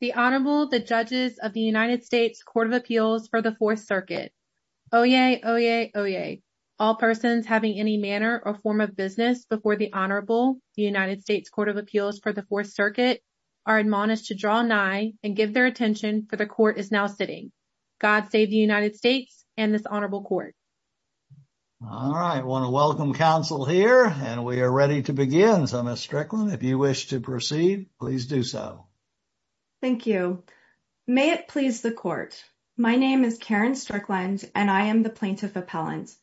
The Honorable, the Judges of the United States Court of Appeals for the Fourth Circuit. Oyez! All persons having any manner or form of business before the Honorable, the United States Court of Appeals for the Fourth Circuit, are admonished to draw nigh and give their attention, for the Court is now sitting. God save the United States and this Honorable Court. All right. I want to welcome counsel here, and we are ready to begin. Counsel Ms. Strickland, if you wish to proceed, please do so. Thank you. May it please the Court. My name is Caryn Strickland, and I am the Plaintiff Appellant.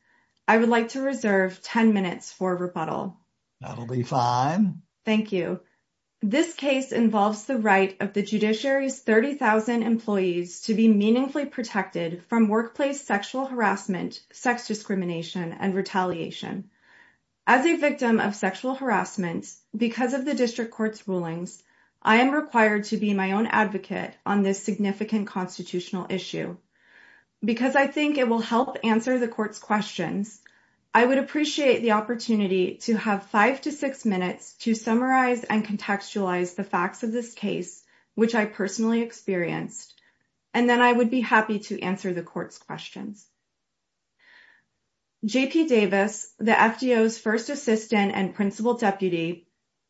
I would like to reserve 10 minutes for rebuttal. That'll be fine. Thank you. This case involves the right of the judiciary's 30,000 employees to be meaningfully protected from workplace sexual harassment, sex discrimination, and retaliation. As a victim of sexual harassment, because of the District Court's rulings, I am required to be my own advocate on this significant constitutional issue. Because I think it will help answer the Court's questions, I would appreciate the opportunity to have five to six minutes to summarize and contextualize the facts of this case, which I personally experienced, and then I would be happy to answer the Court's questions. J.P. Davis, the FDO's first assistant and principal deputy,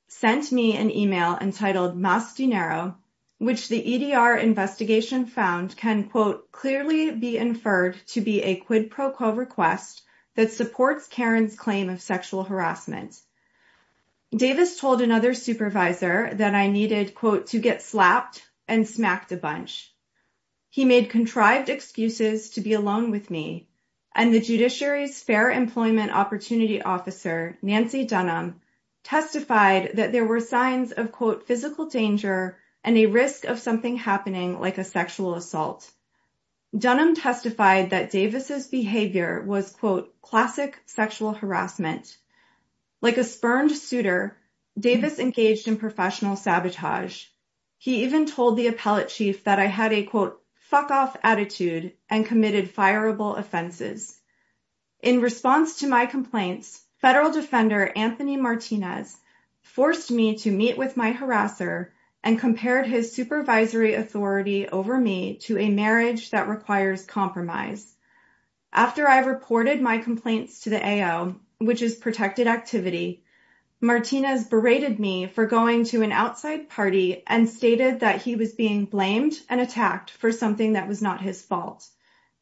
sent me an email entitled Más Dinero, which the EDR investigation found can, quote, clearly be inferred to be a quid pro quo request that supports Caryn's claim of sexual harassment. Davis told another supervisor that I needed, quote, to get slapped and smacked a bunch. He made contrived excuses to be alone with me, and the judiciary's fair employment opportunity officer, Nancy Dunham, testified that there were signs of, quote, physical danger and a risk of something happening like a sexual assault. Dunham testified that Davis' behavior was, quote, classic sexual harassment. Like a spurned suitor, Davis engaged in professional sabotage. He even told the appellate chief that I had a, quote, fuck-off attitude and committed fireable offenses. In response to my complaints, federal defender Anthony Martinez forced me to meet with my harasser and compared his supervisory authority over me to a marriage that requires compromise. After I reported my complaints to the AO, which is protected activity, Martinez berated me for going to an outside party and stated that he was being blamed and attacked for something that was not his fault.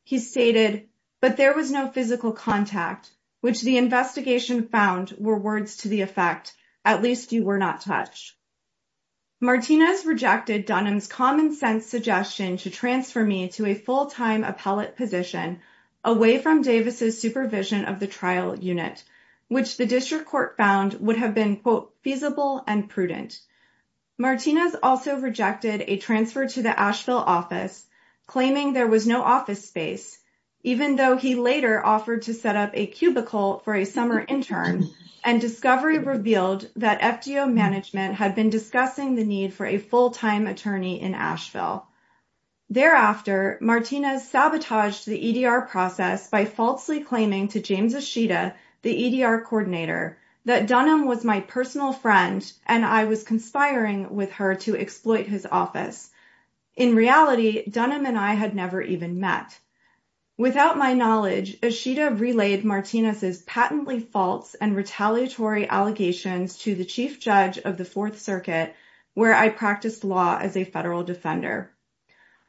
He stated, but there was no physical contact, which the investigation found were words to the effect, at least you were not touched. Martinez rejected Dunham's common sense suggestion to transfer me to a full-time appellate position away from Davis' supervision of the trial unit, which the district court found would have been, quote, feasible and prudent. Martinez also rejected a transfer to the Asheville office, claiming there was no office space, even though he later offered to set up a cubicle for a summer intern, and discovery revealed that FDO management had been discussing the need for a full-time attorney in Asheville. Thereafter, Martinez sabotaged the EDR process by falsely claiming to James Ishida, the EDR coordinator, that Dunham was my personal friend and I was conspiring with her to exploit his office. In reality, Dunham and I had never even met. Without my knowledge, Ishida relayed Martinez's patently false and retaliatory allegations to the Chief Judge of the Fourth Circuit, where I practiced law as a federal defender.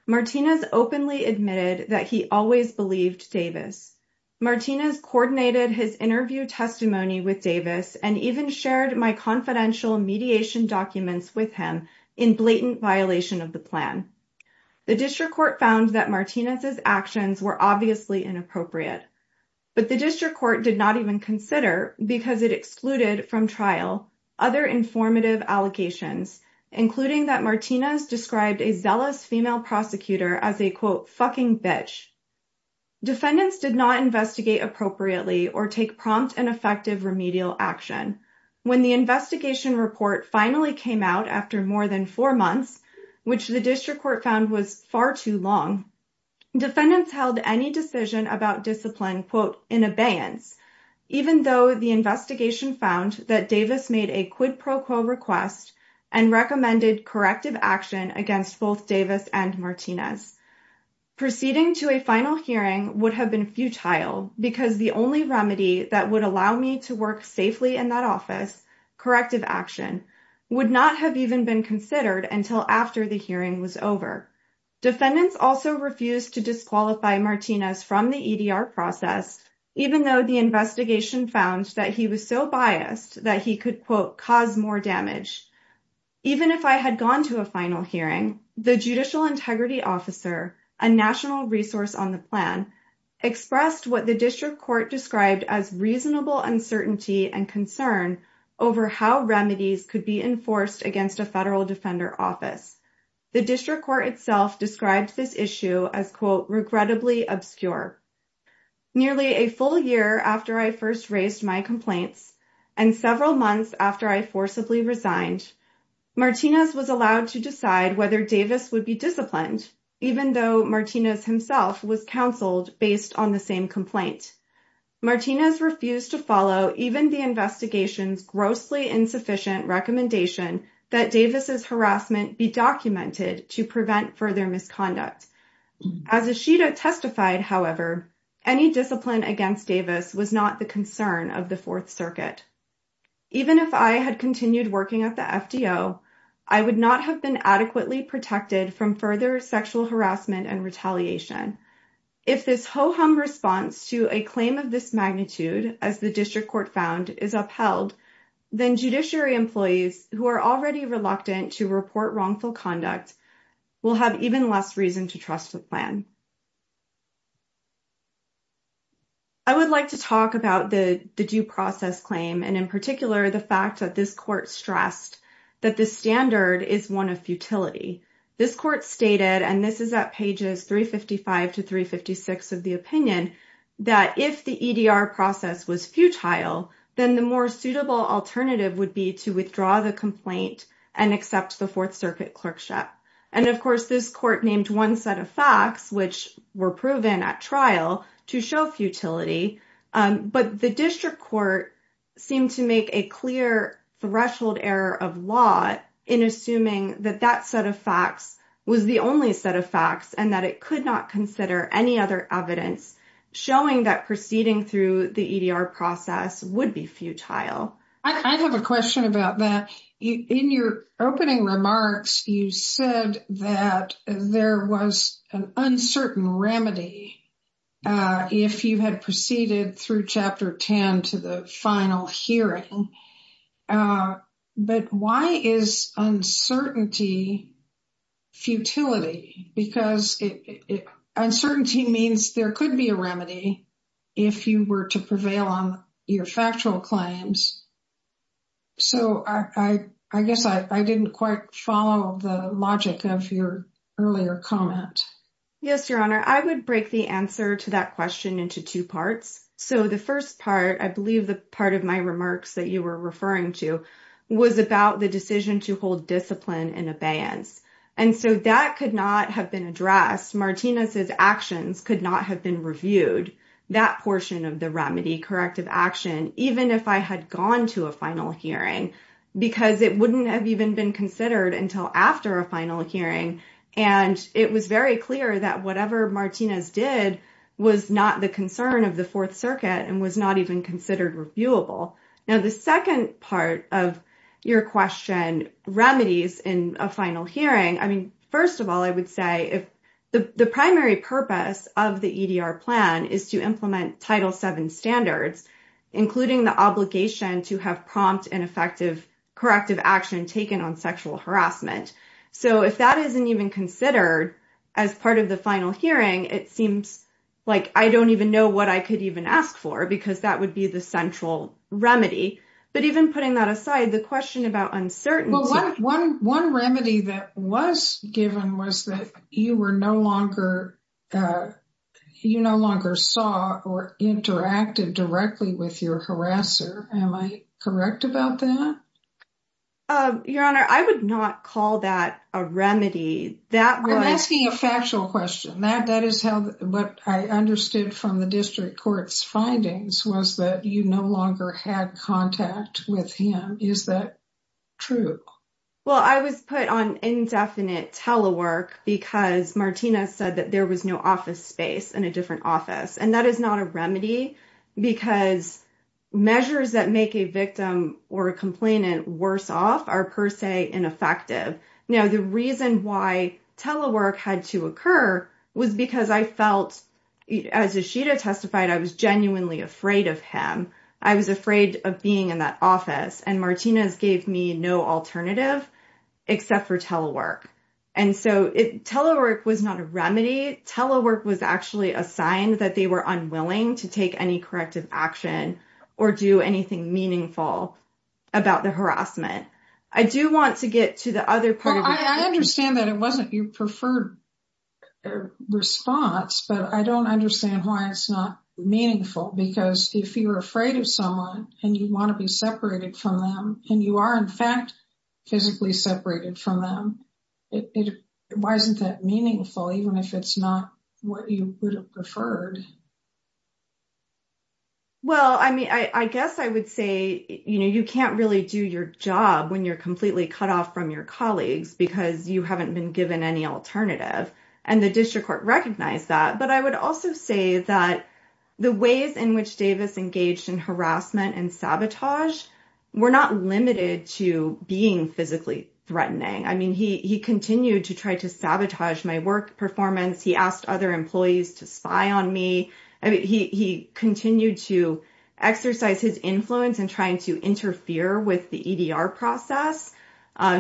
Martinez openly admitted that he always believed Davis. Martinez coordinated his interview testimony with Davis and even shared my confidential mediation documents with him in blatant violation of the plan. The district court found that Martinez's actions were obviously inappropriate, but the district court did not even consider, because it excluded from trial, other informative allegations, including that Martinez described a zealous female prosecutor as a, quote, fucking bitch. Defendants did not investigate appropriately or take prompt and effective remedial action. When the investigation report finally came out after more than four months, which the district court found was far too long, defendants held any decision about discipline, quote, in abeyance, even though the investigation found that Davis made a quid pro quo request and recommended corrective action against both Davis and Martinez. Proceeding to a final hearing would have been futile because the only remedy that would allow me to work safely in that office, corrective action, would not have even been considered until after the hearing was over. Defendants also refused to disqualify Martinez from the EDR process, even though the investigation found that he was so biased that he could, quote, cause more damage. Even if I had gone to a final hearing, the judicial integrity officer, a national resource on the plan, expressed what the district court described as reasonable uncertainty and concern over how remedies could be enforced against a federal defender office. The district court itself described this issue as, quote, regrettably obscure. Nearly a full year after I first raised my complaints and several months after I forcibly resigned, Martinez was allowed to decide whether Davis would be disciplined, even though Martinez himself was counseled based on the same complaint. Martinez refused to follow even the investigation's grossly insufficient recommendation that Davis' harassment be documented to prevent further misconduct. As Ishida testified, however, any discipline against Davis was not the concern of the Fourth Circuit. Even if I had continued working at the FDO, I would not have been adequately protected from further sexual harassment and retaliation. If this ho-hum response to a claim of this magnitude, as the district court found, is upheld, then judiciary employees who are already reluctant to report wrongful conduct will have even less reason to trust the plan. I would like to talk about the due process claim and, in particular, the fact that this court stressed that the standard is one of futility. This court stated, and this is at pages 355 to 356 of the opinion, that if the EDR process was futile, then the more suitable alternative would be to withdraw the complaint and accept the Fourth Circuit clerkship. And, of course, this court named one set of facts, which were proven at trial, to show futility. But the district court seemed to make a clear threshold error of law in assuming that that set of facts was the only set of facts and that it could not consider any other evidence showing that proceeding through the EDR process would be futile. I have a question about that. In your opening remarks, you said that there was an uncertain remedy if you had proceeded through Chapter 10 to the final hearing. But why is uncertainty futility? Because uncertainty means there could be a remedy if you were to prevail on your factual claims. So, I guess I didn't quite follow the logic of your earlier comment. Yes, Your Honor. I would break the answer to that question into two parts. So, the first part, I believe the part of my remarks that you were referring to, was about the decision to hold discipline and abeyance. And so, that could not have been addressed. Martinez's actions could not have been reviewed, that portion of the remedy, corrective action, even if I had gone to a final hearing, because it wouldn't have even been considered until after a final hearing. And it was very clear that whatever Martinez did was not the concern of the Fourth Circuit and was not even considered reviewable. Now, the second part of your question, remedies in a final hearing, I mean, first of all, I would say the primary purpose of the EDR plan is to implement Title VII standards, including the obligation to have prompt and effective corrective action taken on sexual harassment. So, if that isn't even considered as part of the final hearing, it seems like I don't even know what I could even ask for, because that would be the central remedy. But even putting that aside, the question about uncertainty... Well, one remedy that was given was that you no longer saw or interacted directly with your harasser. Am I correct about that? Your Honor, I would not call that a remedy. That was... I'm asking a factual question. What I understood from the district court's findings was that you no longer had contact with him. Is that true? Well, I was put on indefinite telework because Martinez said that there was no office space in a different office. And that is not a remedy, because measures that make a victim or a complainant worse off are per se ineffective. Now, the reason why telework had to occur was because I felt, as Ishida testified, I was genuinely afraid of him. I was afraid of being in that office, and Martinez gave me no alternative except for telework. And so, telework was not a remedy. Telework was actually a sign that they were unwilling to take any corrective action or do anything meaningful about the harassment. I do want to get to the other part of it. Well, I understand that it wasn't your preferred response, but I don't understand why it's not meaningful. Because if you're afraid of someone and you want to be separated from them, and you are in fact physically separated from them, why isn't that meaningful, even if it's not what you would have preferred? Well, I mean, I guess I would say, you know, you can't really do your job when you're completely cut off from your colleagues because you haven't been given any alternative. And the district court recognized that. But I would also say that the ways in which Davis engaged in harassment and sabotage were not limited to being physically threatening. I mean, he continued to try to sabotage my work performance. He asked other employees to spy on me. He continued to exercise his influence in trying to interfere with the EDR process.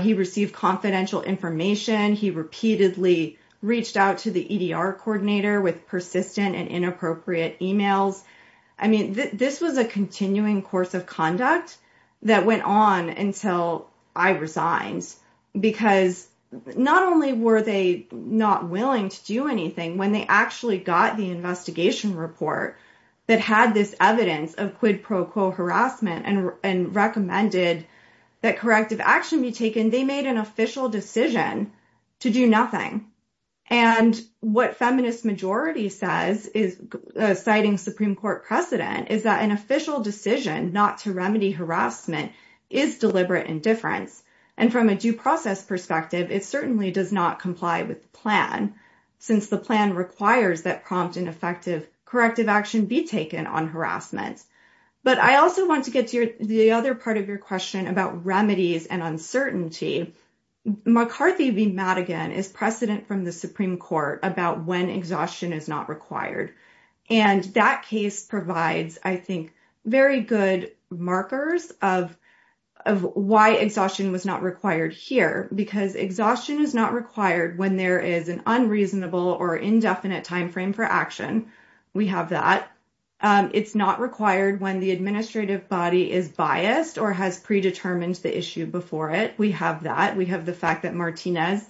He received confidential information. He repeatedly reached out to the EDR coordinator with persistent and inappropriate emails. I mean, this was a continuing course of conduct that went on until I resigned. Because not only were they not willing to do anything, when they actually got the investigation report that had this evidence of quid pro quo harassment and recommended that corrective action be taken, they made an official decision to do nothing. And what feminist majority says, citing Supreme Court precedent, is that an official decision not to remedy harassment is deliberate indifference. And from a due process perspective, it certainly does not comply with the plan, since the plan requires that prompt and effective corrective action be taken on harassment. But I also want to get to the other part of your question about remedies and uncertainty. McCarthy v. Madigan is precedent from the Supreme Court about when exhaustion is not required. And that case provides, I think, very good markers of why exhaustion was not required here. Because exhaustion is not required when there is an unreasonable or indefinite timeframe for action. We have that. It's not required when the administrative body is biased or has predetermined the issue before it. We have that. We have the fact that Martinez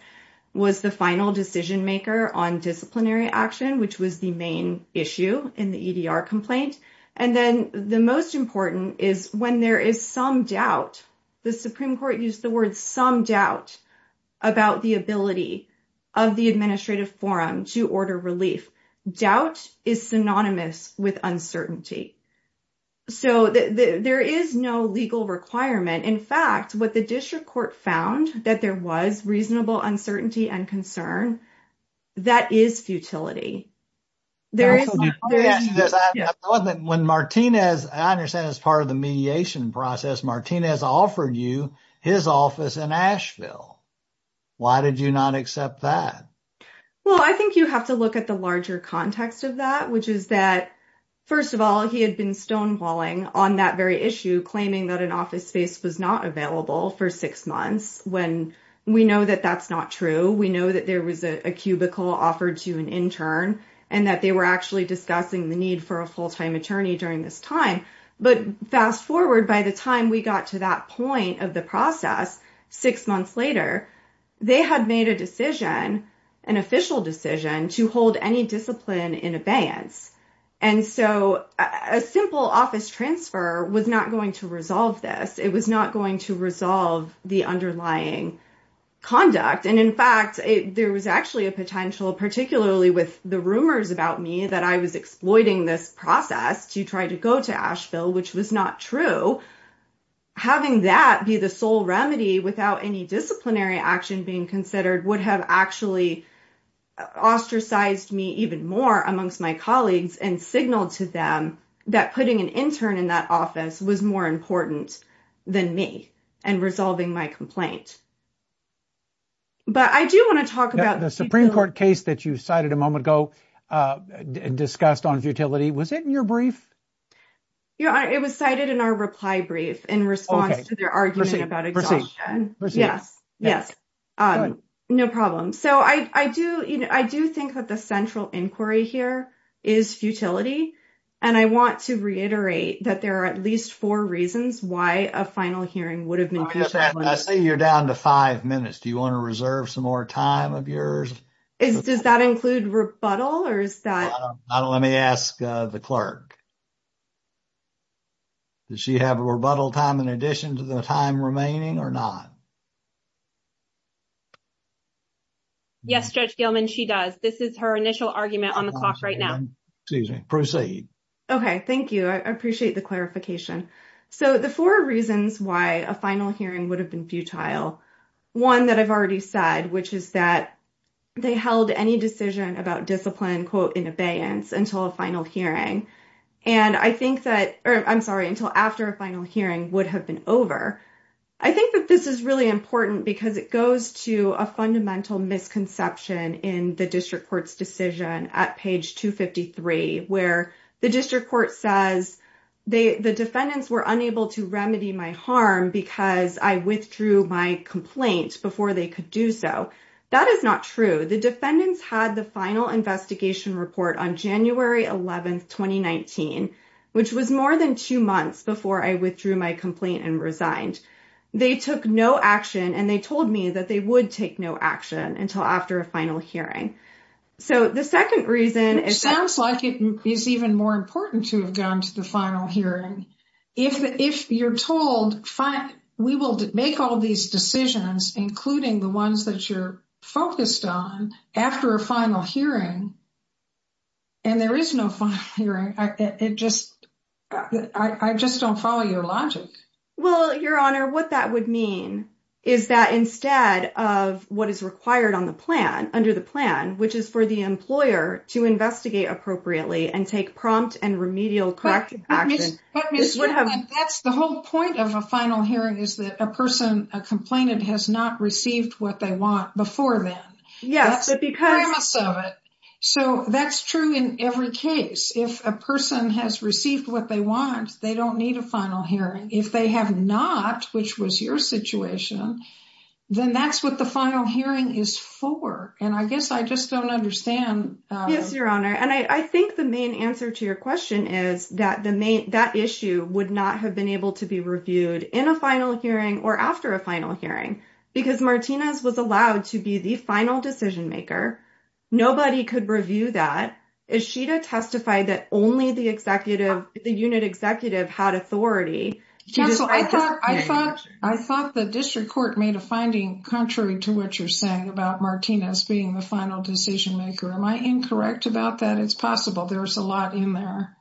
was the final decision maker on disciplinary action, which was the main issue in the EDR complaint. And then the most important is when there is some doubt. The Supreme Court used the word some doubt about the ability of the administrative forum to order relief. Doubt is synonymous with uncertainty. So there is no legal requirement. In fact, what the district court found, that there was reasonable uncertainty and concern, that is futility. When Martinez, I understand as part of the mediation process, Martinez offered you his office in Asheville. Why did you not accept that? Well, I think you have to look at the larger context of that, which is that, first of all, he had been stonewalling on that very issue, claiming that an office space was not available for six months. We know that that's not true. We know that there was a cubicle offered to an intern and that they were actually discussing the need for a full-time attorney during this time. But fast forward, by the time we got to that point of the process, six months later, they had made a decision, an official decision, to hold any discipline in abeyance. And so a simple office transfer was not going to resolve this. It was not going to resolve the underlying conduct. And in fact, there was actually a potential, particularly with the rumors about me, that I was exploiting this process to try to go to Asheville, which was not true. Having that be the sole remedy without any disciplinary action being considered would have actually ostracized me even more amongst my colleagues and signaled to them that putting an intern in that office was more important than me and resolving my complaint. But I do want to talk about the Supreme Court case that you cited a moment ago, discussed on futility. Was it in your brief? It was cited in our reply brief in response to their argument about exhaustion. Yes, yes. No problem. So I do think that the central inquiry here is futility. And I want to reiterate that there are at least four reasons why a final hearing would have been futile. I see you're down to five minutes. Do you want to reserve some more time of yours? Does that include rebuttal or is that? Let me ask the clerk. Does she have a rebuttal time in addition to the time remaining or not? Yes, Judge Gilman, she does. This is her initial argument on the clock right now. Excuse me. Proceed. Okay, thank you. I appreciate the clarification. So the four reasons why a final hearing would have been futile, one that I've already said, which is that they held any decision about discipline, quote, in abeyance until a final hearing. And I think that I'm sorry, until after a final hearing would have been over. I think that this is really important because it goes to a fundamental misconception in decision at page 253, where the district court says the defendants were unable to remedy my harm because I withdrew my complaint before they could do so. That is not true. The defendants had the final investigation report on January 11th, 2019, which was more than two months before I withdrew my complaint and resigned. They took no action and they told me that they would take no action until after a final hearing. So the second reason. It sounds like it is even more important to have gone to the final hearing. If you're told, fine, we will make all these decisions, including the ones that you're focused on after a final hearing. And there is no final hearing. It just I just don't follow your logic. Well, Your Honor, what that would mean is that instead of what is required on the plan under the plan, which is for the employer to investigate appropriately and take prompt and remedial corrective action. That's the whole point of a final hearing is that a person a complainant has not received what they want before then. Yes, because of it. So that's true in every case. If a person has received what they want, they don't need a final hearing. And if they have not, which was your situation, then that's what the final hearing is for. And I guess I just don't understand. Yes, Your Honor. And I think the main answer to your question is that the main that issue would not have been able to be reviewed in a final hearing or after a final hearing because Martinez was allowed to be the final decision maker. Nobody could review that. Is she to testify that only the executive, the unit executive had authority? I thought I thought the district court made a finding contrary to what you're saying about Martinez being the final decision maker. Am I incorrect about that? It's possible. There's a lot in there.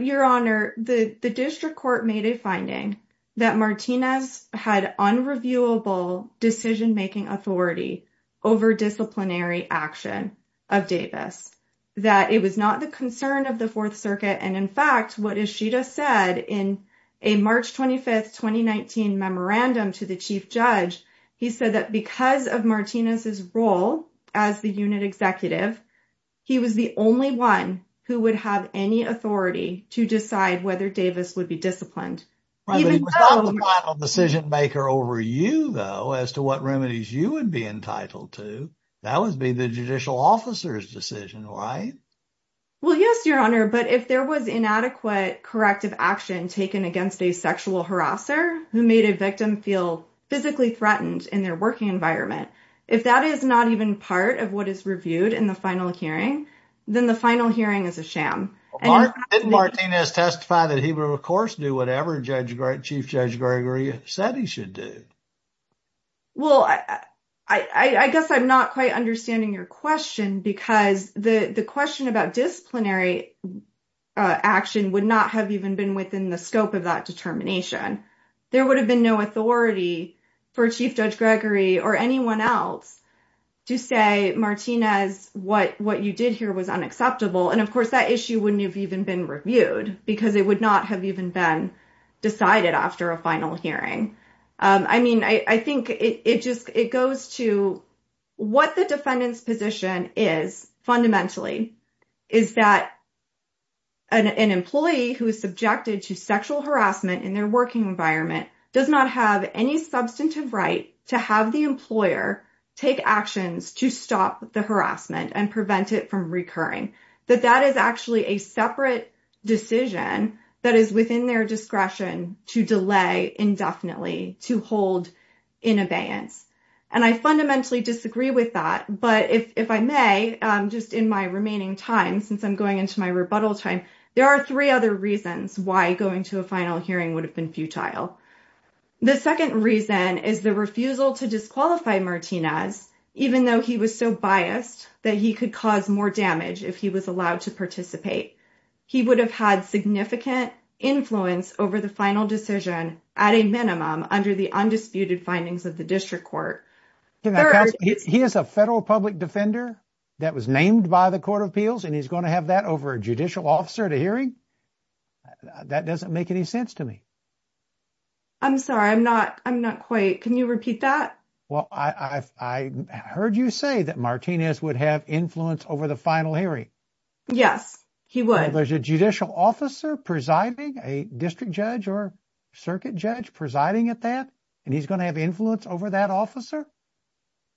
Your Honor, the district court made a finding that Martinez had unreviewable decision making authority over disciplinary action of Davis. That it was not the concern of the Fourth Circuit. And in fact, what Ishida said in a March 25th, 2019 memorandum to the chief judge, he said that because of Martinez's role as the unit executive, he was the only one who would have any authority to decide whether Davis would be disciplined. Decision maker over you, though, as to what remedies you would be entitled to, that would be the judicial officer's decision, right? Well, yes, Your Honor. But if there was inadequate corrective action taken against a sexual harasser who made a victim feel physically threatened in their working environment, if that is not even part of what is reviewed in the final hearing, then the final hearing is a sham. Didn't Martinez testify that he would, of course, do whatever Chief Judge Gregory said he should do? Well, I guess I'm not quite understanding your question because the question about disciplinary action would not have even been within the scope of that determination. There would have been no authority for Chief Judge Gregory or anyone else to say, Martinez, what you did here was unacceptable. And, of course, that issue wouldn't have even been reviewed because it would not have even been decided after a final hearing. I mean, I think it just goes to what the defendant's position is fundamentally is that an employee who is subjected to sexual harassment in their working environment does not have any substantive right to have the employer take actions to stop the harassment and prevent it from recurring, that that is actually a separate decision that is within their discretion to delay indefinitely to hold in abeyance. And I fundamentally disagree with that. But if I may, just in my remaining time, since I'm going into my rebuttal time, there are three other reasons why going to a final hearing would have been futile. The second reason is the refusal to disqualify Martinez even though he was so biased that he could cause more damage if he was allowed to participate. He would have had significant influence over the final decision at a minimum under the undisputed findings of the district court. He is a federal public defender that was named by the Court of Appeals, and he's going to have that over a judicial officer at a hearing? That doesn't make any sense to me. I'm sorry, I'm not. I'm not quite. Can you repeat that? Well, I heard you say that Martinez would have influence over the final hearing. Yes, he would. There's a judicial officer presiding, a district judge or circuit judge presiding at that, and he's going to have influence over that officer?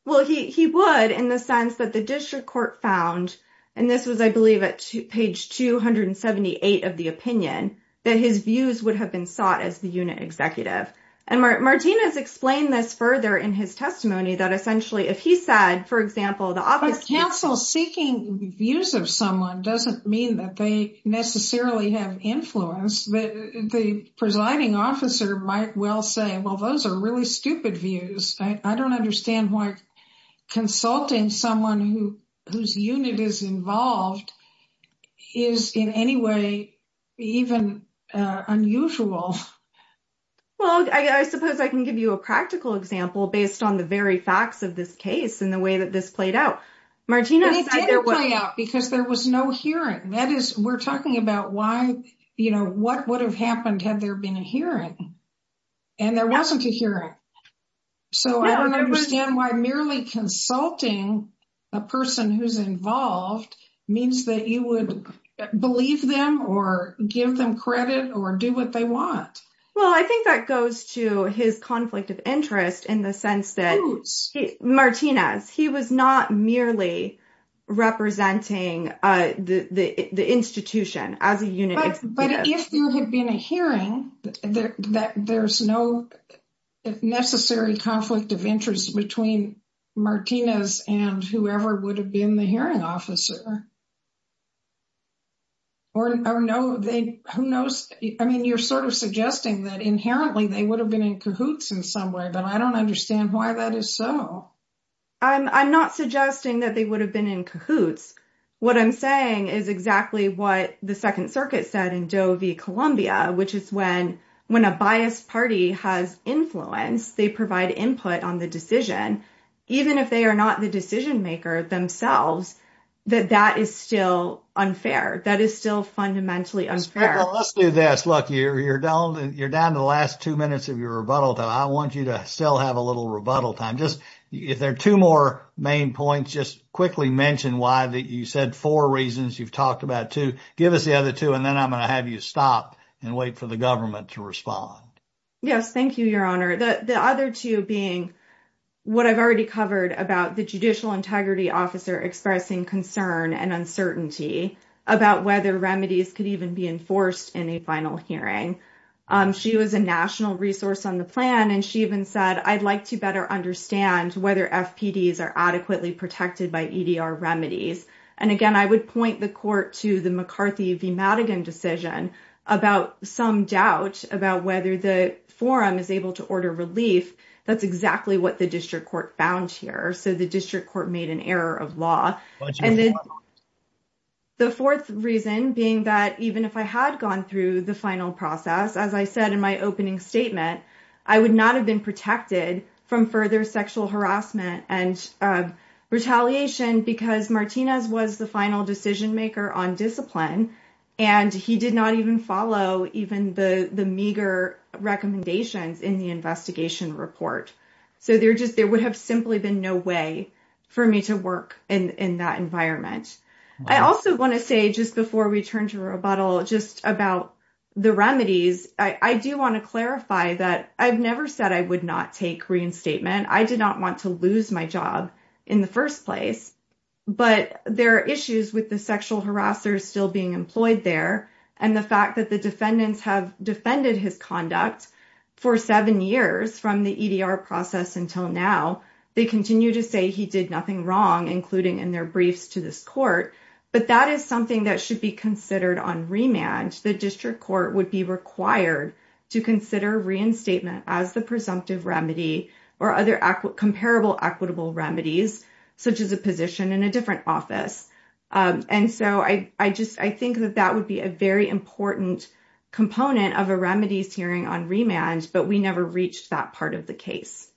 Well, he would in the sense that the district court found, and this was, I believe, at page 278 of the opinion, that his views would have been sought as the unit executive. And Martinez explained this further in his testimony that essentially if he said, for example, the office counsel seeking views of someone doesn't mean that they necessarily have influence. The presiding officer might well say, well, those are really stupid views. I don't understand why consulting someone whose unit is involved is in any way even unusual. Well, I suppose I can give you a practical example based on the very facts of this case and the way that this played out. It did play out because there was no hearing. We're talking about what would have happened had there been a hearing, and there wasn't a hearing. So I don't understand why merely consulting a person who's involved means that you would believe them or give them credit or do what they want. Well, I think that goes to his conflict of interest in the sense that Martinez, he was not merely representing the institution as a unit executive. But if there had been a hearing, there's no necessary conflict of interest between Martinez and whoever would have been the hearing officer. Or no, who knows? I mean, you're sort of suggesting that inherently they would have been in cahoots in some way, but I don't understand why that is so. I'm not suggesting that they would have been in cahoots. What I'm saying is exactly what the Second Circuit said in Doe v. Columbia, which is when a biased party has influence, they provide input on the decision, even if they are not the decision maker themselves, that that is still unfair. That is still fundamentally unfair. Let's do this. Look, you're down to the last two minutes of your rebuttal time. I want you to still have a little rebuttal time. If there are two more main points, just quickly mention why you said four reasons. You've talked about two. Give us the other two, and then I'm going to have you stop and wait for the government to respond. Yes, thank you, Your Honor. The other two being what I've already covered about the judicial integrity officer expressing concern and uncertainty about whether remedies could even be enforced in a final hearing. She was a national resource on the plan, and she even said, I'd like to better understand whether FPDs are adequately protected by EDR remedies. And, again, I would point the court to the McCarthy v. Madigan decision about some doubt about whether the forum is able to order relief. That's exactly what the district court found here. So the district court made an error of law. The fourth reason being that even if I had gone through the final process, as I said in my opening statement, I would not have been protected from further sexual harassment and retaliation because Martinez was the final decision maker on discipline, and he did not even follow even the meager recommendations in the investigation report. So there would have simply been no way for me to work in that environment. I also want to say, just before we turn to rebuttal, just about the remedies, I do want to clarify that I've never said I would not take reinstatement. I did not want to lose my job in the first place. But there are issues with the sexual harassers still being employed there and the fact that the defendants have defended his conduct for seven years from the EDR process until now. They continue to say he did nothing wrong, including in their briefs to this court. But that is something that should be considered on remand. The district court would be required to consider reinstatement as the presumptive remedy or other comparable equitable remedies, such as a position in a different office. And so I think that that would be a very important component of a remedies hearing on remand, but we never reached that part of the case.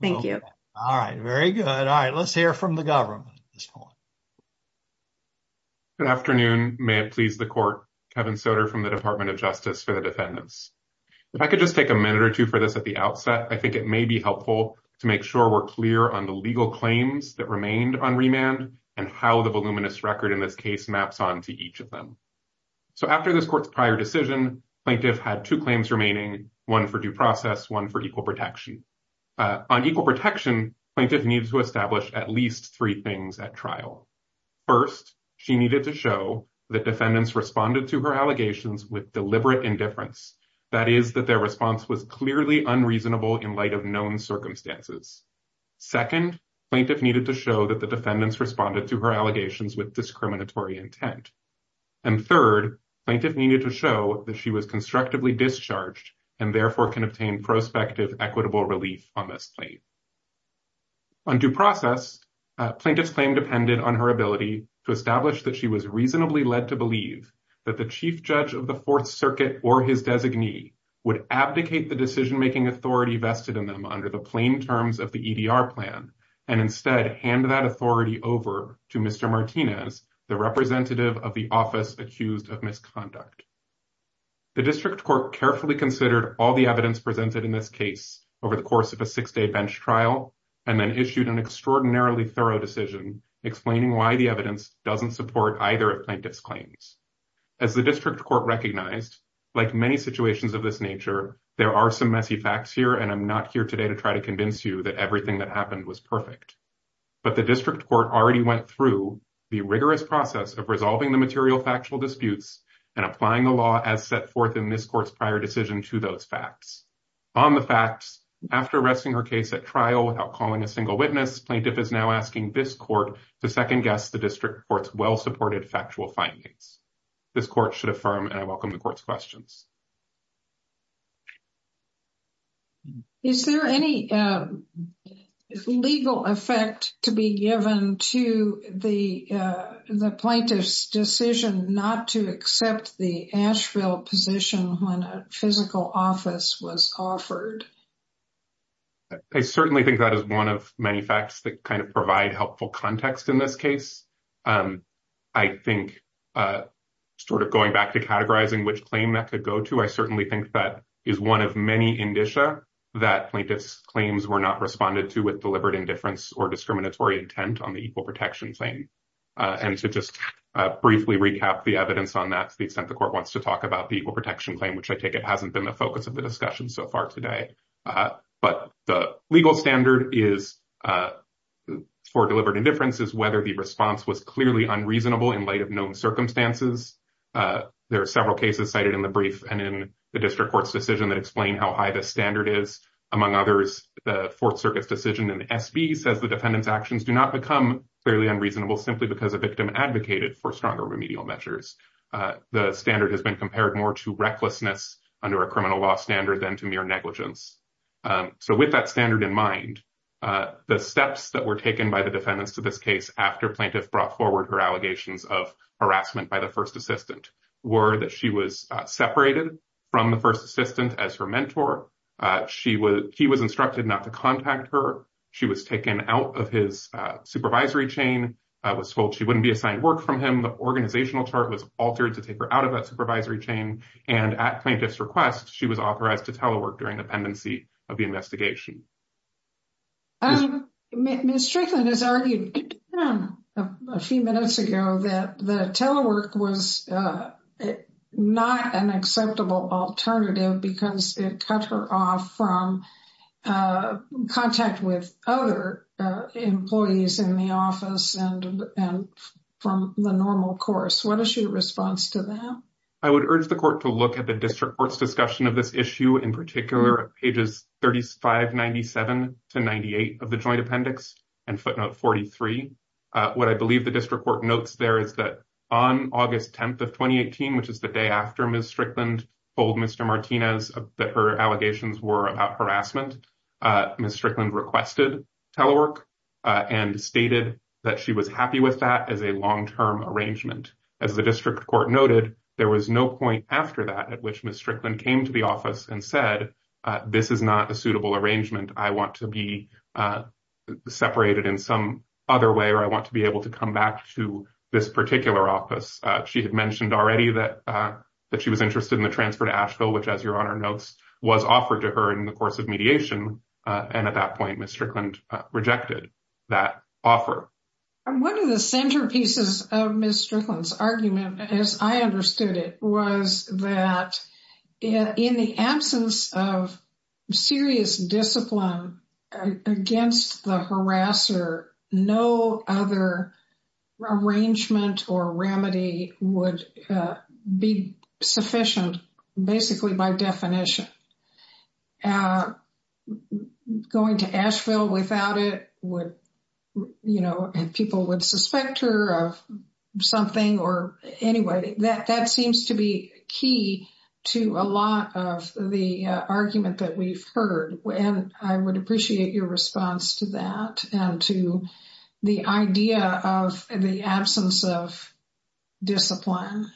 Thank you. All right. Very good. All right. Let's hear from the government. Good afternoon. May it please the court. Kevin Soter from the Department of Justice for the defendants. If I could just take a minute or two for this at the outset, I think it may be helpful to make sure we're clear on the legal claims that remained on remand and how the voluminous record in this case maps on to each of them. So after this court's prior decision, plaintiff had two claims remaining, one for due process, one for equal protection on equal protection, plaintiff needs to establish at least three things at trial. First, she needed to show that defendants responded to her allegations with deliberate indifference. That is that their response was clearly unreasonable in light of known circumstances. Second, plaintiff needed to show that the defendants responded to her allegations with discriminatory intent. And third, plaintiff needed to show that she was constructively discharged and therefore can obtain prospective equitable relief on this claim. On due process, plaintiff's claim depended on her ability to establish that she was reasonably led to believe that the chief judge of the Fourth Circuit or his designee would abdicate the decision making authority vested in them under the plain terms of the EDR plan and instead hand that authority over to Mr. Martinez, the representative of the office accused of misconduct. The district court carefully considered all the evidence presented in this case over the course of a six day bench trial and then issued an extraordinarily thorough decision explaining why the evidence doesn't support either plaintiff's claims. As the district court recognized, like many situations of this nature, there are some messy facts here and I'm not here today to try to convince you that everything that happened was perfect. But the district court already went through the rigorous process of resolving the material factual disputes and applying the law as set forth in this court's prior decision to those facts. On the facts, after arresting her case at trial without calling a single witness, plaintiff is now asking this court to second guess the district court's well-supported factual findings. This court should affirm and I welcome the court's questions. Is there any legal effect to be given to the plaintiff's decision not to accept the Asheville position when a physical office was offered? I certainly think that is one of many facts that kind of provide helpful context in this case. I think sort of going back to categorizing which claim that could go to, I certainly think that is one of many indicia that plaintiff's claims were not responded to with deliberate indifference or discriminatory intent on the equal protection claim. And to just briefly recap the evidence on that to the extent the court wants to talk about the protection claim, which I take it hasn't been the focus of the discussion so far today. But the legal standard for deliberate indifference is whether the response was clearly unreasonable in light of known circumstances. There are several cases cited in the brief and in the district court's decision that explain how high the standard is. Among others, the Fourth Circuit's decision in SB says the defendant's actions do not become fairly unreasonable simply because a victim advocated for stronger remedial measures. The standard has been compared more to recklessness under a criminal law standard than to mere negligence. So with that standard in mind, the steps that were taken by the defendants to this case after plaintiff brought forward her allegations of harassment by the first assistant were that she was separated from the first assistant as her mentor. He was instructed not to contact her. She was taken out of his supervisory chain, was told she wouldn't be assigned work from him. The organizational chart was altered to take her out of that supervisory chain. And at plaintiff's request, she was authorized to telework during the pendency of the investigation. Ms. Strickland has argued a few minutes ago that the telework was not an acceptable alternative because it cut her off from contact with other employees in the office and from the normal course. What is your response to that? I would urge the court to look at the district court's discussion of this issue, in particular pages 3597 to 98 of the joint appendix and footnote 43. What I believe the district court notes there is that on August 10th of 2018, which is the day after Ms. Strickland told Mr. Martinez that her allegations were about harassment, Ms. Strickland requested telework and stated that she was happy with that as a long-term arrangement. As the district court noted, there was no point after that at which Ms. Strickland came to the office and said, this is not a suitable arrangement. I want to be separated in some other way or I want to be able to come back to this particular office. She had mentioned already that she was interested in the transfer to Asheville, which as your Honor notes, was offered to her in the course of mediation. And at that point, Ms. Strickland rejected that offer. One of the centerpieces of Ms. Strickland's argument, as I understood it, was that in the absence of serious discipline against the harasser, no other arrangement or remedy would be sufficient, basically by definition. Going to Asheville without it would, you know, people would suspect her of something or anyway, that seems to be key to a lot of the argument that we've heard. And I would appreciate your response to that and to the idea of the absence of discipline.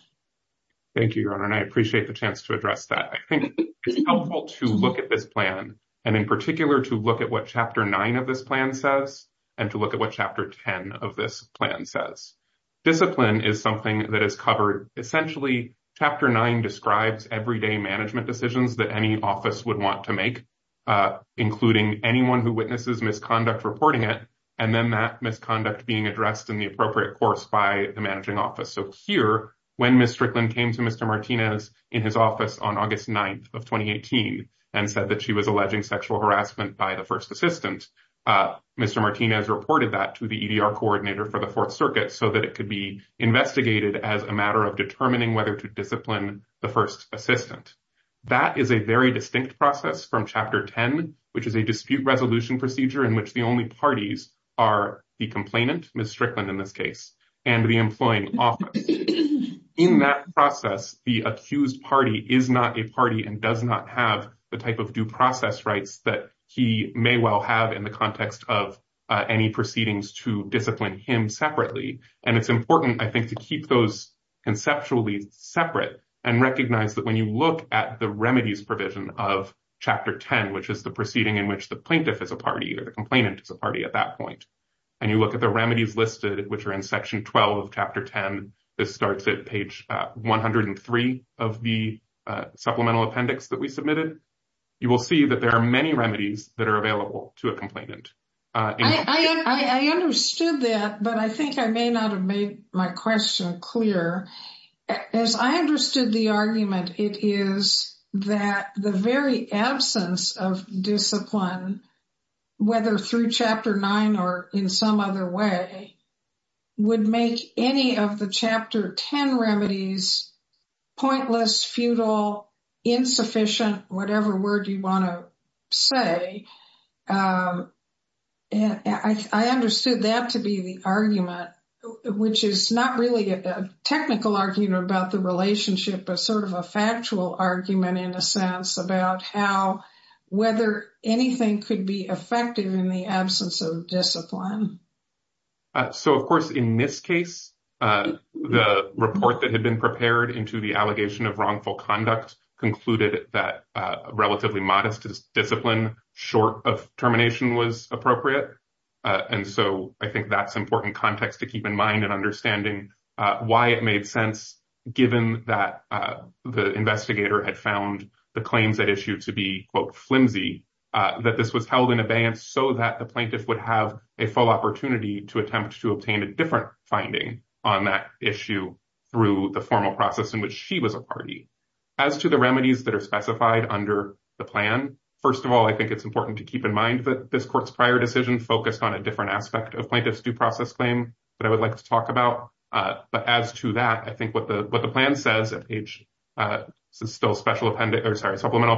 Thank you, Your Honor, and I appreciate the chance to address that. I think it's helpful to look at this plan and in particular to look at what Chapter 9 of this plan says and to look at what Chapter 10 of this plan says. Discipline is something that is covered. Essentially, Chapter 9 describes everyday management decisions that any office would want to make, including anyone who witnesses misconduct reporting it and then that misconduct being addressed in the appropriate course by the managing office. So here, when Ms. Strickland came to Mr. Martinez in his office on August 9th of 2018 and said that she was alleging sexual harassment by the first assistant, Mr. Martinez reported that to the EDR coordinator for the Fourth Circuit so that it could be investigated as a matter of determining whether to discipline the first assistant. That is a very distinct process from Chapter 10, which is a dispute resolution procedure in which the only parties are the complainant, Ms. Strickland in this case, and the employing office. In that process, the accused party is not a party and does not have the type of due process rights that he may well have in the context of any proceedings to discipline him separately. And it's important, I think, to keep those conceptually separate and recognize that when you look at the remedies provision of Chapter 10, which is the proceeding in which the plaintiff is a party or the complainant is a party at that point, and you look at the remedies listed, which are in Section 12 of Chapter 10, this starts at page 103 of the supplemental appendix that we submitted, you will see that there are many remedies that are available to a complainant. I understood that, but I think I may not have made my question clear. As I understood the argument, it is that the very absence of discipline, whether through Chapter 9 or in some other way, would make any of the Chapter 10 remedies pointless, futile, insufficient, whatever word you want to say. I understood that to be the argument, which is not really a technical argument about the relationship, but sort of a factual argument in a sense about how, whether anything could be effective in the absence of discipline. So, of course, in this case, the report that had been prepared into the allegation of wrongful conduct concluded that relatively modest discipline short of termination was appropriate. And so I think that's important context to keep in mind and understanding why it made sense, given that the investigator had found the claims that issued to be, quote, flimsy, that this was held in abeyance so that the plaintiff would have a full opportunity to attempt to obtain a different finding on that issue through the formal process in which she was a party. As to the remedies that are specified under the plan, first of all, I think it's important to keep in mind that this court's prior decision focused on a different aspect of plaintiff's due process claim that I would like to talk about. But as to that, I think what the plan says at page, still supplemental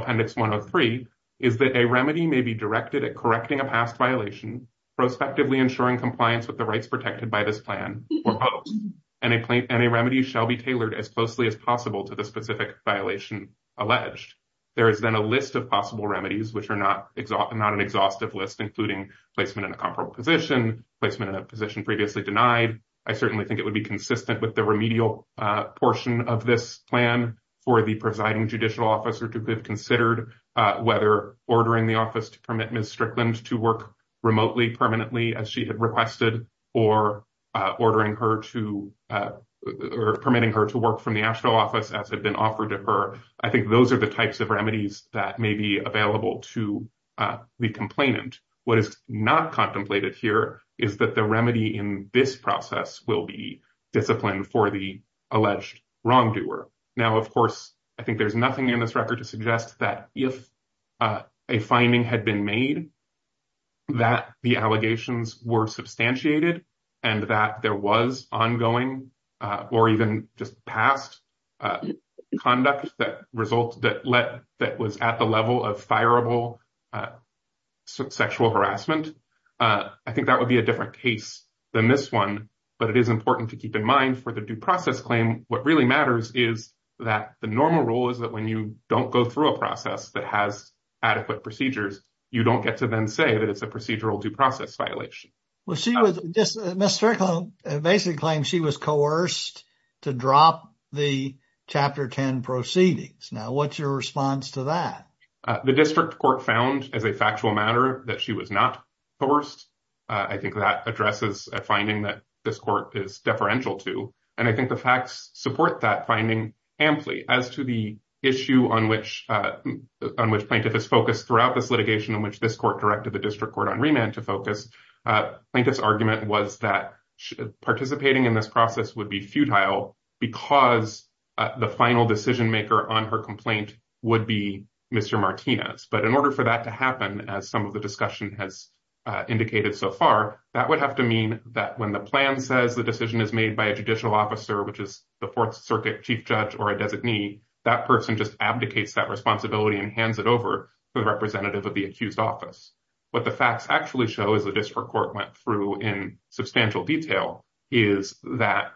appendix 103, is that a remedy may be directed at correcting a past violation, prospectively ensuring compliance with the rights protected by this plan or post, and a remedy shall be tailored as closely as possible to the specific violation alleged. There is then a list of possible remedies, which are not an exhaustive list, including placement in a comparable position, placement in a position previously denied. I certainly think it would be consistent with the remedial portion of this plan for the presiding judicial officer to have considered whether ordering the office to permit Ms. Strickland to work remotely, permanently, as she had requested, or permitting her to work from the actual office as had been offered to her. I think those are the types of remedies that may be available to the complainant. What is not contemplated here is that the remedy in this process will be disciplined for the alleged wrongdoer. Now, of course, I think there's nothing in this record to suggest that if a finding had been made, that the allegations were substantiated, and that there was ongoing or even just past conduct that was at the level of fireable sexual harassment. I think that would be a different case than this one, but it is important to keep in mind for the due process claim, what really matters is that the normal rule is that when you don't go through a process that has adequate procedures, you don't get to then say that it's a procedural due process violation. Ms Strickland basically claims she was coerced to drop the Chapter 10 proceedings. Now, what's your response to that? The district court found as a factual matter that she was not coerced. I think that addresses a finding that this court is deferential to, and I think the facts support that finding amply. As to the issue on which plaintiff is focused throughout this litigation in which this court directed the district court on remand to focus, plaintiff's argument was that participating in this process would be futile because the final decision maker on her complaint would be Mr. Martinez. But in order for that to happen, as some of the discussion has indicated so far, that would have to mean that when the plan says the decision is made by a judicial officer, which is the Fourth Circuit chief judge or a designee, that person just abdicates that responsibility and hands it over to the representative of the accused office. What the facts actually show is the district court went through in substantial detail is that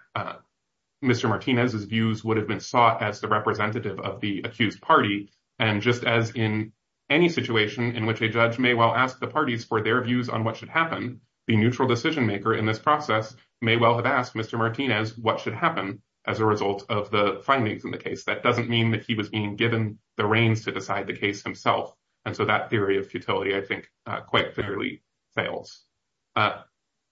Mr. Martinez's views would have been sought as the representative of the accused party. And just as in any situation in which a judge may well ask the parties for their views on what should happen, the neutral decision maker in this process may well have asked Mr. Martinez what should happen as a result of the findings in the case. That doesn't mean that he was being given the reins to decide the case himself. And so that theory of futility, I think, quite clearly fails. I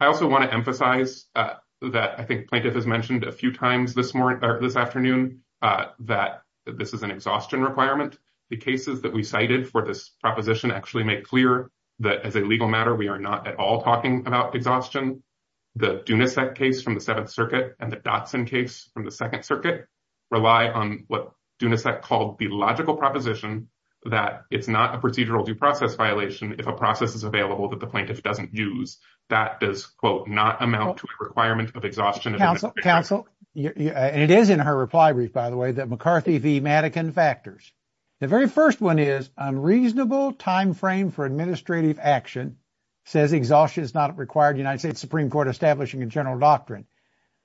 also want to emphasize that I think plaintiff has mentioned a few times this morning or this afternoon that this is an exhaustion requirement. The cases that we cited for this proposition actually make clear that as a legal matter, we are not at all talking about exhaustion. The Dunasec case from the Seventh Circuit and the Dotson case from the Second Circuit rely on what Dunasec called the logical proposition that it's not a procedural due process violation if a process is available that the plaintiff doesn't use. That does, quote, not amount to a requirement of exhaustion. Counsel, counsel, and it is in her reply brief, by the way, that McCarthy v. Madigan factors. The very first one is unreasonable time frame for administrative action says exhaustion is not required. United States Supreme Court establishing a general doctrine.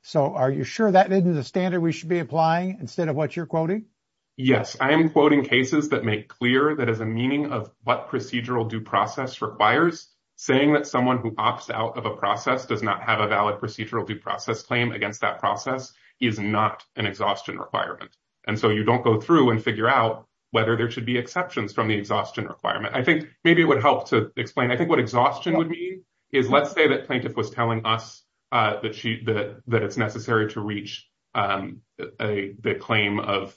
So are you sure that isn't the standard we should be applying instead of what you're quoting? Yes, I am quoting cases that make clear that as a meaning of what procedural due process requires, saying that someone who opts out of a process does not have a valid procedural due process claim against that process is not an exhaustion requirement. And so you don't go through and figure out whether there should be exceptions from the exhaustion requirement. I think maybe it would help to explain. I think what exhaustion would mean is let's say that plaintiff was telling us that she that that it's necessary to reach a claim of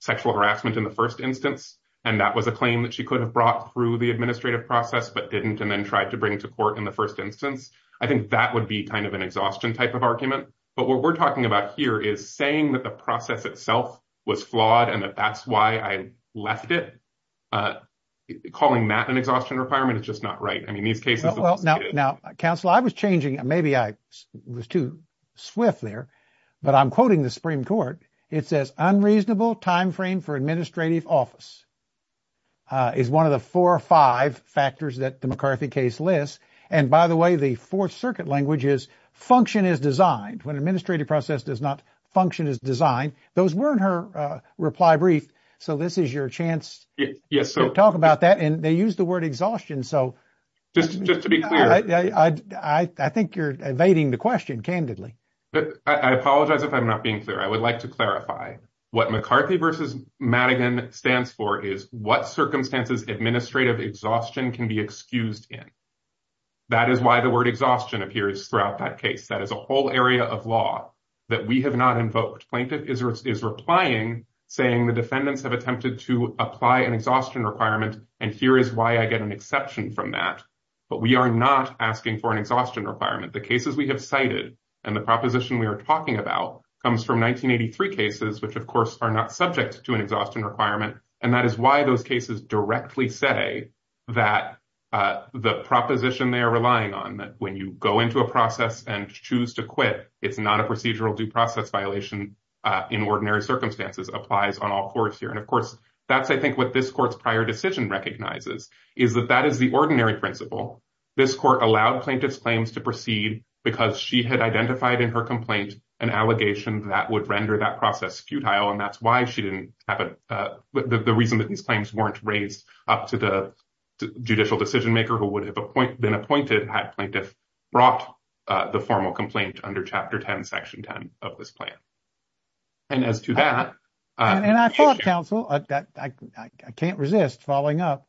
sexual harassment in the first instance. And that was a claim that she could have brought through the administrative process, but didn't and then tried to bring to court in the first instance. I think that would be kind of an exhaustion type of argument. But what we're talking about here is saying that the process itself was flawed and that that's why I left it. Calling that an exhaustion requirement is just not right. I mean, these cases. Now, counsel, I was changing. Maybe I was too swift there, but I'm quoting the Supreme Court. It says unreasonable time frame for administrative office is one of the four or five factors that the McCarthy case lists. And by the way, the Fourth Circuit language is function is designed when administrative process does not function is designed. Those weren't her reply brief. So this is your chance to talk about that. And they use the word exhaustion. So just to be clear, I think you're evading the question candidly. But I apologize if I'm not being clear. I would like to clarify what McCarthy versus Madigan stands for is what circumstances administrative exhaustion can be excused in. That is why the word exhaustion appears throughout that case. That is a whole area of law that we have not invoked. Plaintiff is replying, saying the defendants have attempted to apply an exhaustion requirement. And here is why I get an exception from that. But we are not asking for an exhaustion requirement. The cases we have cited and the proposition we are talking about comes from 1983 cases, which, of course, are not subject to an exhaustion requirement. And that is why those cases directly say that the proposition they are relying on, that when you go into a process and choose to quit, it's not a procedural due process violation. In ordinary circumstances applies on all courts here. And, of course, that's I think what this court's prior decision recognizes is that that is the ordinary principle. This court allowed plaintiff's claims to proceed because she had identified in her complaint an allegation that would render that process futile. And that's why she didn't have the reason that these claims weren't raised up to the judicial decision maker who would have been appointed had plaintiff brought the formal complaint under Chapter 10, Section 10 of this plan. And as to that. And I thought, counsel, I can't resist following up.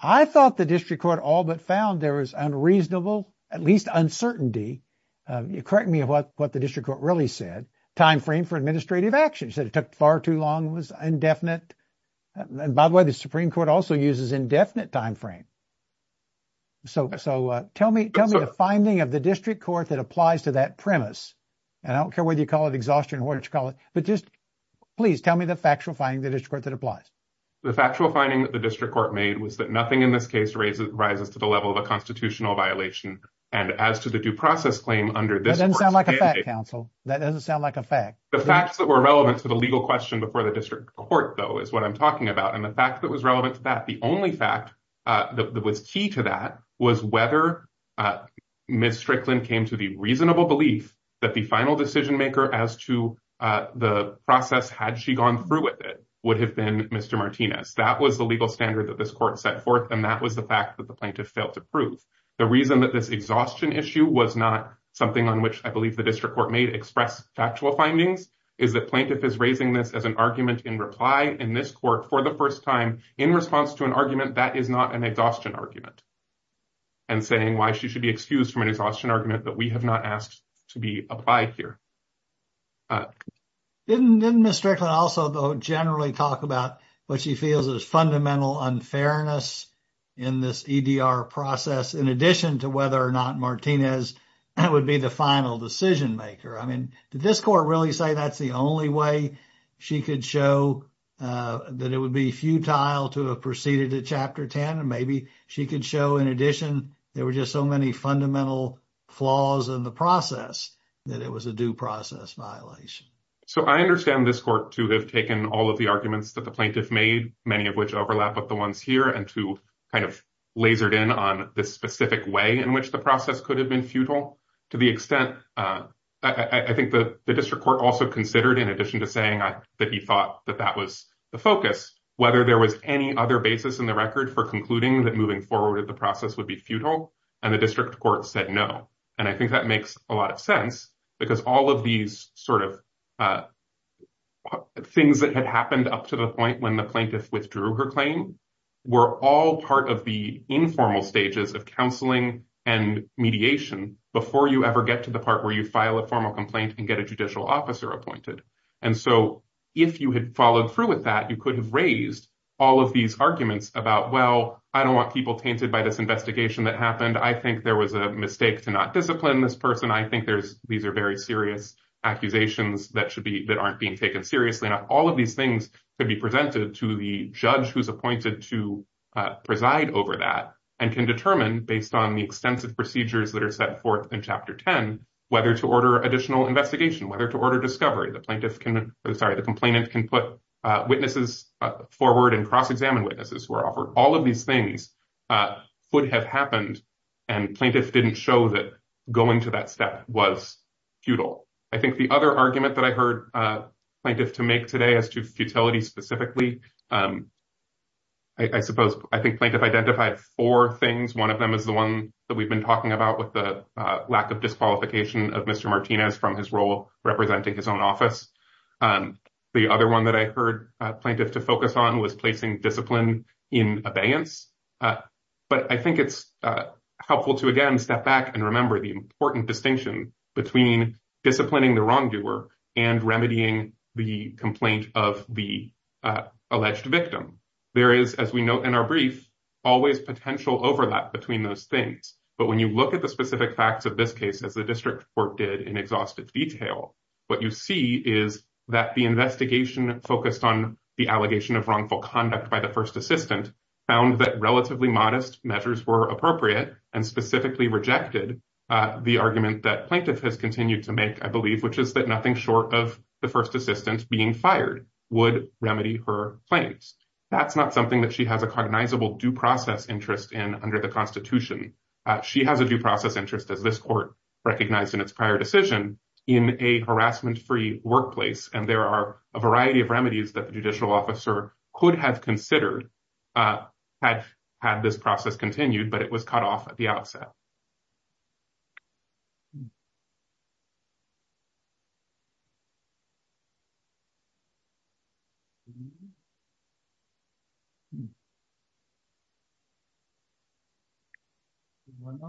I thought the district court all but found there was unreasonable, at least uncertainty. You correct me of what what the district court really said. Time frame for administrative actions that it took far too long was indefinite. And by the way, the Supreme Court also uses indefinite time frame. So so tell me, tell me the finding of the district court that applies to that premise. And I don't care whether you call it exhaustion or what you call it, but just please tell me the factual finding the district court that applies. The factual finding that the district court made was that nothing in this case raises rises to the level of a constitutional violation. And as to the due process claim under this doesn't sound like a council, that doesn't sound like a fact. The facts that were relevant to the legal question before the district court, though, is what I'm talking about. And the fact that was relevant to that, the only fact that was key to that was whether Mr. Clinton came to the reasonable belief that the final decision maker as to the process had she gone through with it would have been Mr. Martinez. That was the legal standard that this court set forth. And that was the fact that the plaintiff failed to prove. The reason that this exhaustion issue was not something on which I believe the district court may express factual findings is that plaintiff is raising this as an argument in reply. In this court for the first time in response to an argument that is not an exhaustion argument. And saying why she should be excused from an exhaustion argument that we have not asked to be applied here. Didn't Mr. Clinton also generally talk about what she feels is fundamental unfairness in this EDR process, in addition to whether or not Martinez would be the final decision maker? I mean, did this court really say that's the only way she could show that it would be futile to have proceeded to Chapter 10? And maybe she could show, in addition, there were just so many fundamental flaws in the process that it was a due process violation. So I understand this court to have taken all of the arguments that the plaintiff made, many of which overlap with the ones here and to kind of lasered in on this specific way in which the process could have been futile. To the extent I think the district court also considered, in addition to saying that he thought that that was the focus, whether there was any other basis in the record for concluding that moving forward, the process would be futile. And the district court said no. And I think that makes a lot of sense because all of these sort of things that had happened up to the point when the plaintiff withdrew her claim were all part of the informal stages of counseling and mediation before you ever get to the part where you file a formal complaint and get a judicial officer appointed. And so if you had followed through with that, you could have raised all of these arguments about, well, I don't want people tainted by this investigation that happened. I think there was a mistake to not discipline this person. I think these are very serious accusations that aren't being taken seriously. Now, all of these things could be presented to the judge who's appointed to preside over that and can determine, based on the extensive procedures that are set forth in Chapter 10, whether to order additional investigation, whether to order discovery. The complainant can put witnesses forward and cross-examine witnesses who are offered. All of these things would have happened, and plaintiff didn't show that going to that step was futile. I think the other argument that I heard plaintiff to make today as to futility specifically, I suppose I think plaintiff identified four things. One of them is the one that we've been talking about with the lack of disqualification of Mr. Martinez from his role representing his own office. The other one that I heard plaintiff to focus on was placing discipline in abeyance. But I think it's helpful to, again, step back and remember the important distinction between disciplining the wrongdoer and remedying the complaint of the alleged victim. There is, as we note in our brief, always potential overlap between those things. But when you look at the specific facts of this case, as the district court did in exhaustive detail, what you see is that the investigation focused on the allegation of wrongful conduct by the first assistant found that relatively modest measures were appropriate and specifically rejected the argument that plaintiff has continued to make, I believe, which is that nothing short of the first assistant being fired would remedy her claims. That's not something that she has a cognizable due process interest in under the Constitution. She has a due process interest as this court recognized in its prior decision in a harassment free workplace. And there are a variety of remedies that the judicial officer could have considered had had this process continued, but it was cut off at the outset. Thank you. Thank you. Thank you. Thank you. Thank you. Thank you. Thank you. Thank you. Thank you. Thank you. Thank you. Thank you. Thank you. Thank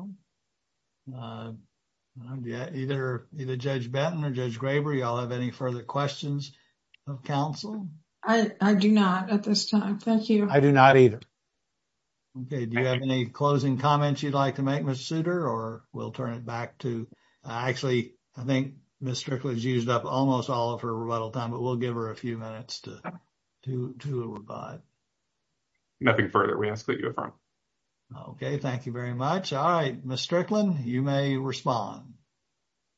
you. Thank you. I do not at this time. Thank you. I do not either. Okay, do you have any closing comments you'd like to make Mr. Souter or we'll turn it back to actually, I think Mr. was used up almost all of her little time, but we'll give her a few minutes to to to. Nothing further we ask that you. Okay, thank you very much. All right, Mr Clinton, you may respond.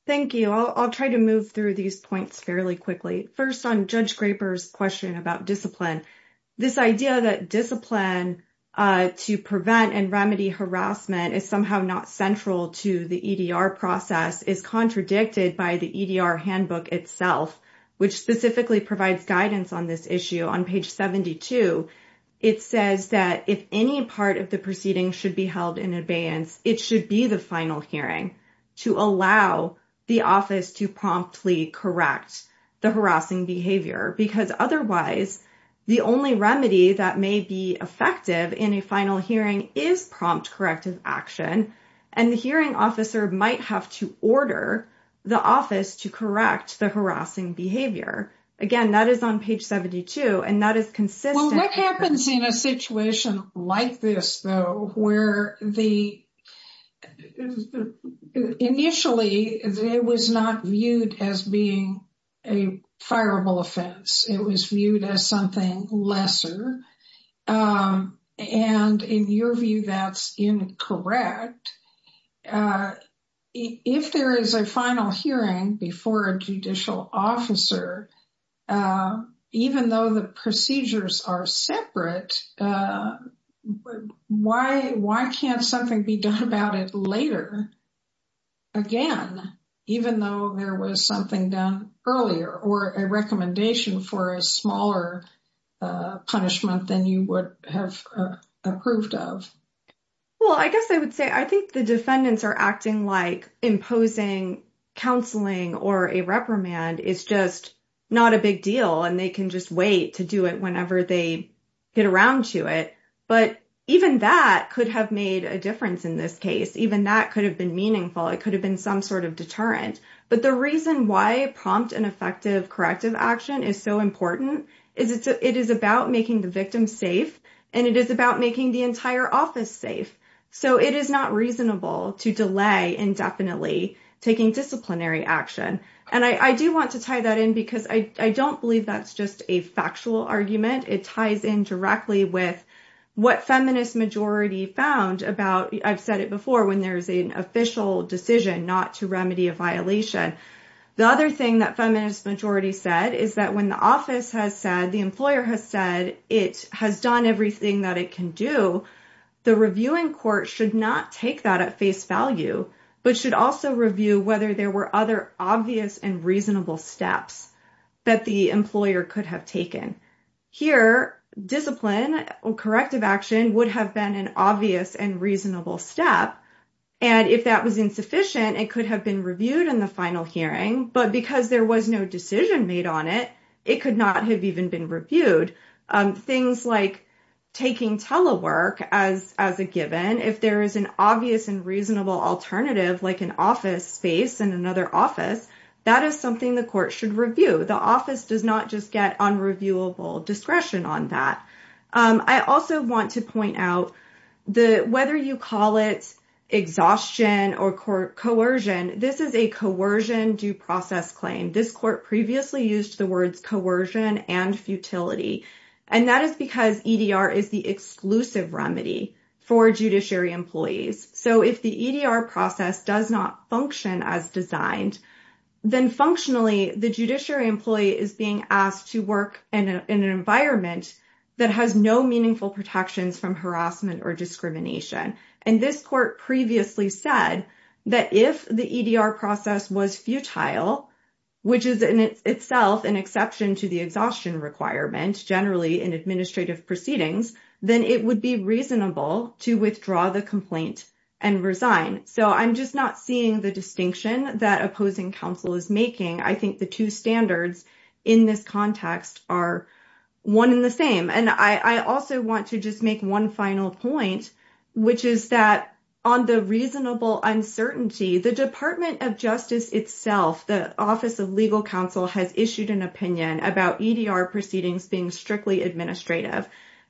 Thank you. I'll try to move through these points fairly quickly. 1st on judge scrapers question about discipline. This idea that discipline to prevent and remedy harassment is somehow not central to the EDR process is contradicted by the EDR handbook itself, which specifically provides guidance on this issue on page 72. It says that if any part of the proceeding should be held in advance, it should be the final hearing to allow the office to promptly correct the harassing behavior because otherwise, the only remedy that may be effective in a final hearing is prompt corrective action. And the hearing officer might have to order the office to correct the harassing behavior. Again, that is on page 72. And that is consistent happens in a situation like this, though, where the. Initially, it was not viewed as being a fireable offense. It was viewed as something lesser. And in your view, that's incorrect. If there is a final hearing before a judicial officer, even though the procedures are separate. Well, I guess I would say I think the defendants are acting like imposing counseling or a reprimand is just not a big deal and they can just wait to do it whenever they get around to it. But even that could have made a difference in this case. Even that could have been meaningful. It could have been some sort of deterrent. But the reason why prompt and effective corrective action is so important is it is about making the victim safe and it is about making the entire office safe. So it is not reasonable to delay indefinitely taking disciplinary action. And I do want to tie that in because I don't believe that's just a factual argument. It ties in directly with what feminist majority found about. I've said it before when there's an official decision not to remedy a violation. The other thing that feminist majority said is that when the office has said the employer has said it has done everything that it can do, the reviewing court should not take that at face value, but should also review whether there were other obvious and reasonable steps that the employer could have taken. Here, discipline or corrective action would have been an obvious and reasonable step. And if that was insufficient, it could have been reviewed in the final hearing. But because there was no decision made on it, it could not have even been reviewed. I also want to point out that whether you call it exhaustion or coercion, this is a coercion due process claim. This court previously used the words coercion and futility. And that is because EDR is the exclusive remedy for judiciary employees. So if the EDR process does not function as designed, then functionally, the judiciary employee is being asked to work in an environment that has no meaningful protections from harassment or discrimination. And this court previously said that if the EDR process was futile, which is in itself an exception to the exhaustion requirement, generally in administrative proceedings, then it would be reasonable to withdraw the complaint and resign. So I'm just not seeing the distinction that opposing counsel is making. I think the two standards in this context are one in the same. And I also want to just make one final point, which is that on the reasonable uncertainty, the Department of Justice itself, the Office of Legal Counsel, has issued an opinion about EDR proceedings being strictly administrative.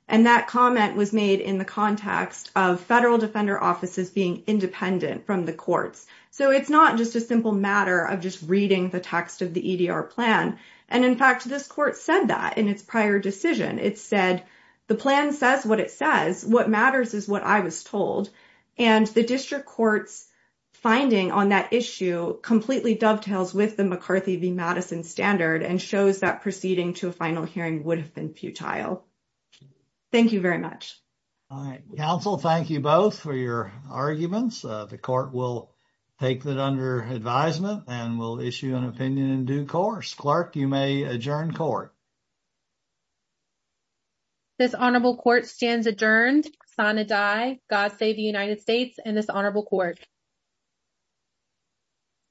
And that comment was made in the context of federal defender offices being independent from the courts. So it's not just a simple matter of just reading the text of the EDR plan. And in fact, this court said that in its prior decision. It said the plan says what it says. What matters is what I was told. And the district court's finding on that issue completely dovetails with the McCarthy v. Madison standard and shows that proceeding to a final hearing would have been futile. Thank you very much. All right. Counsel, thank you both for your arguments. The court will take that under advisement and will issue an opinion in due course. Clerk, you may adjourn court. This honorable court stands adjourned. Sine die. God save the United States and this honorable court.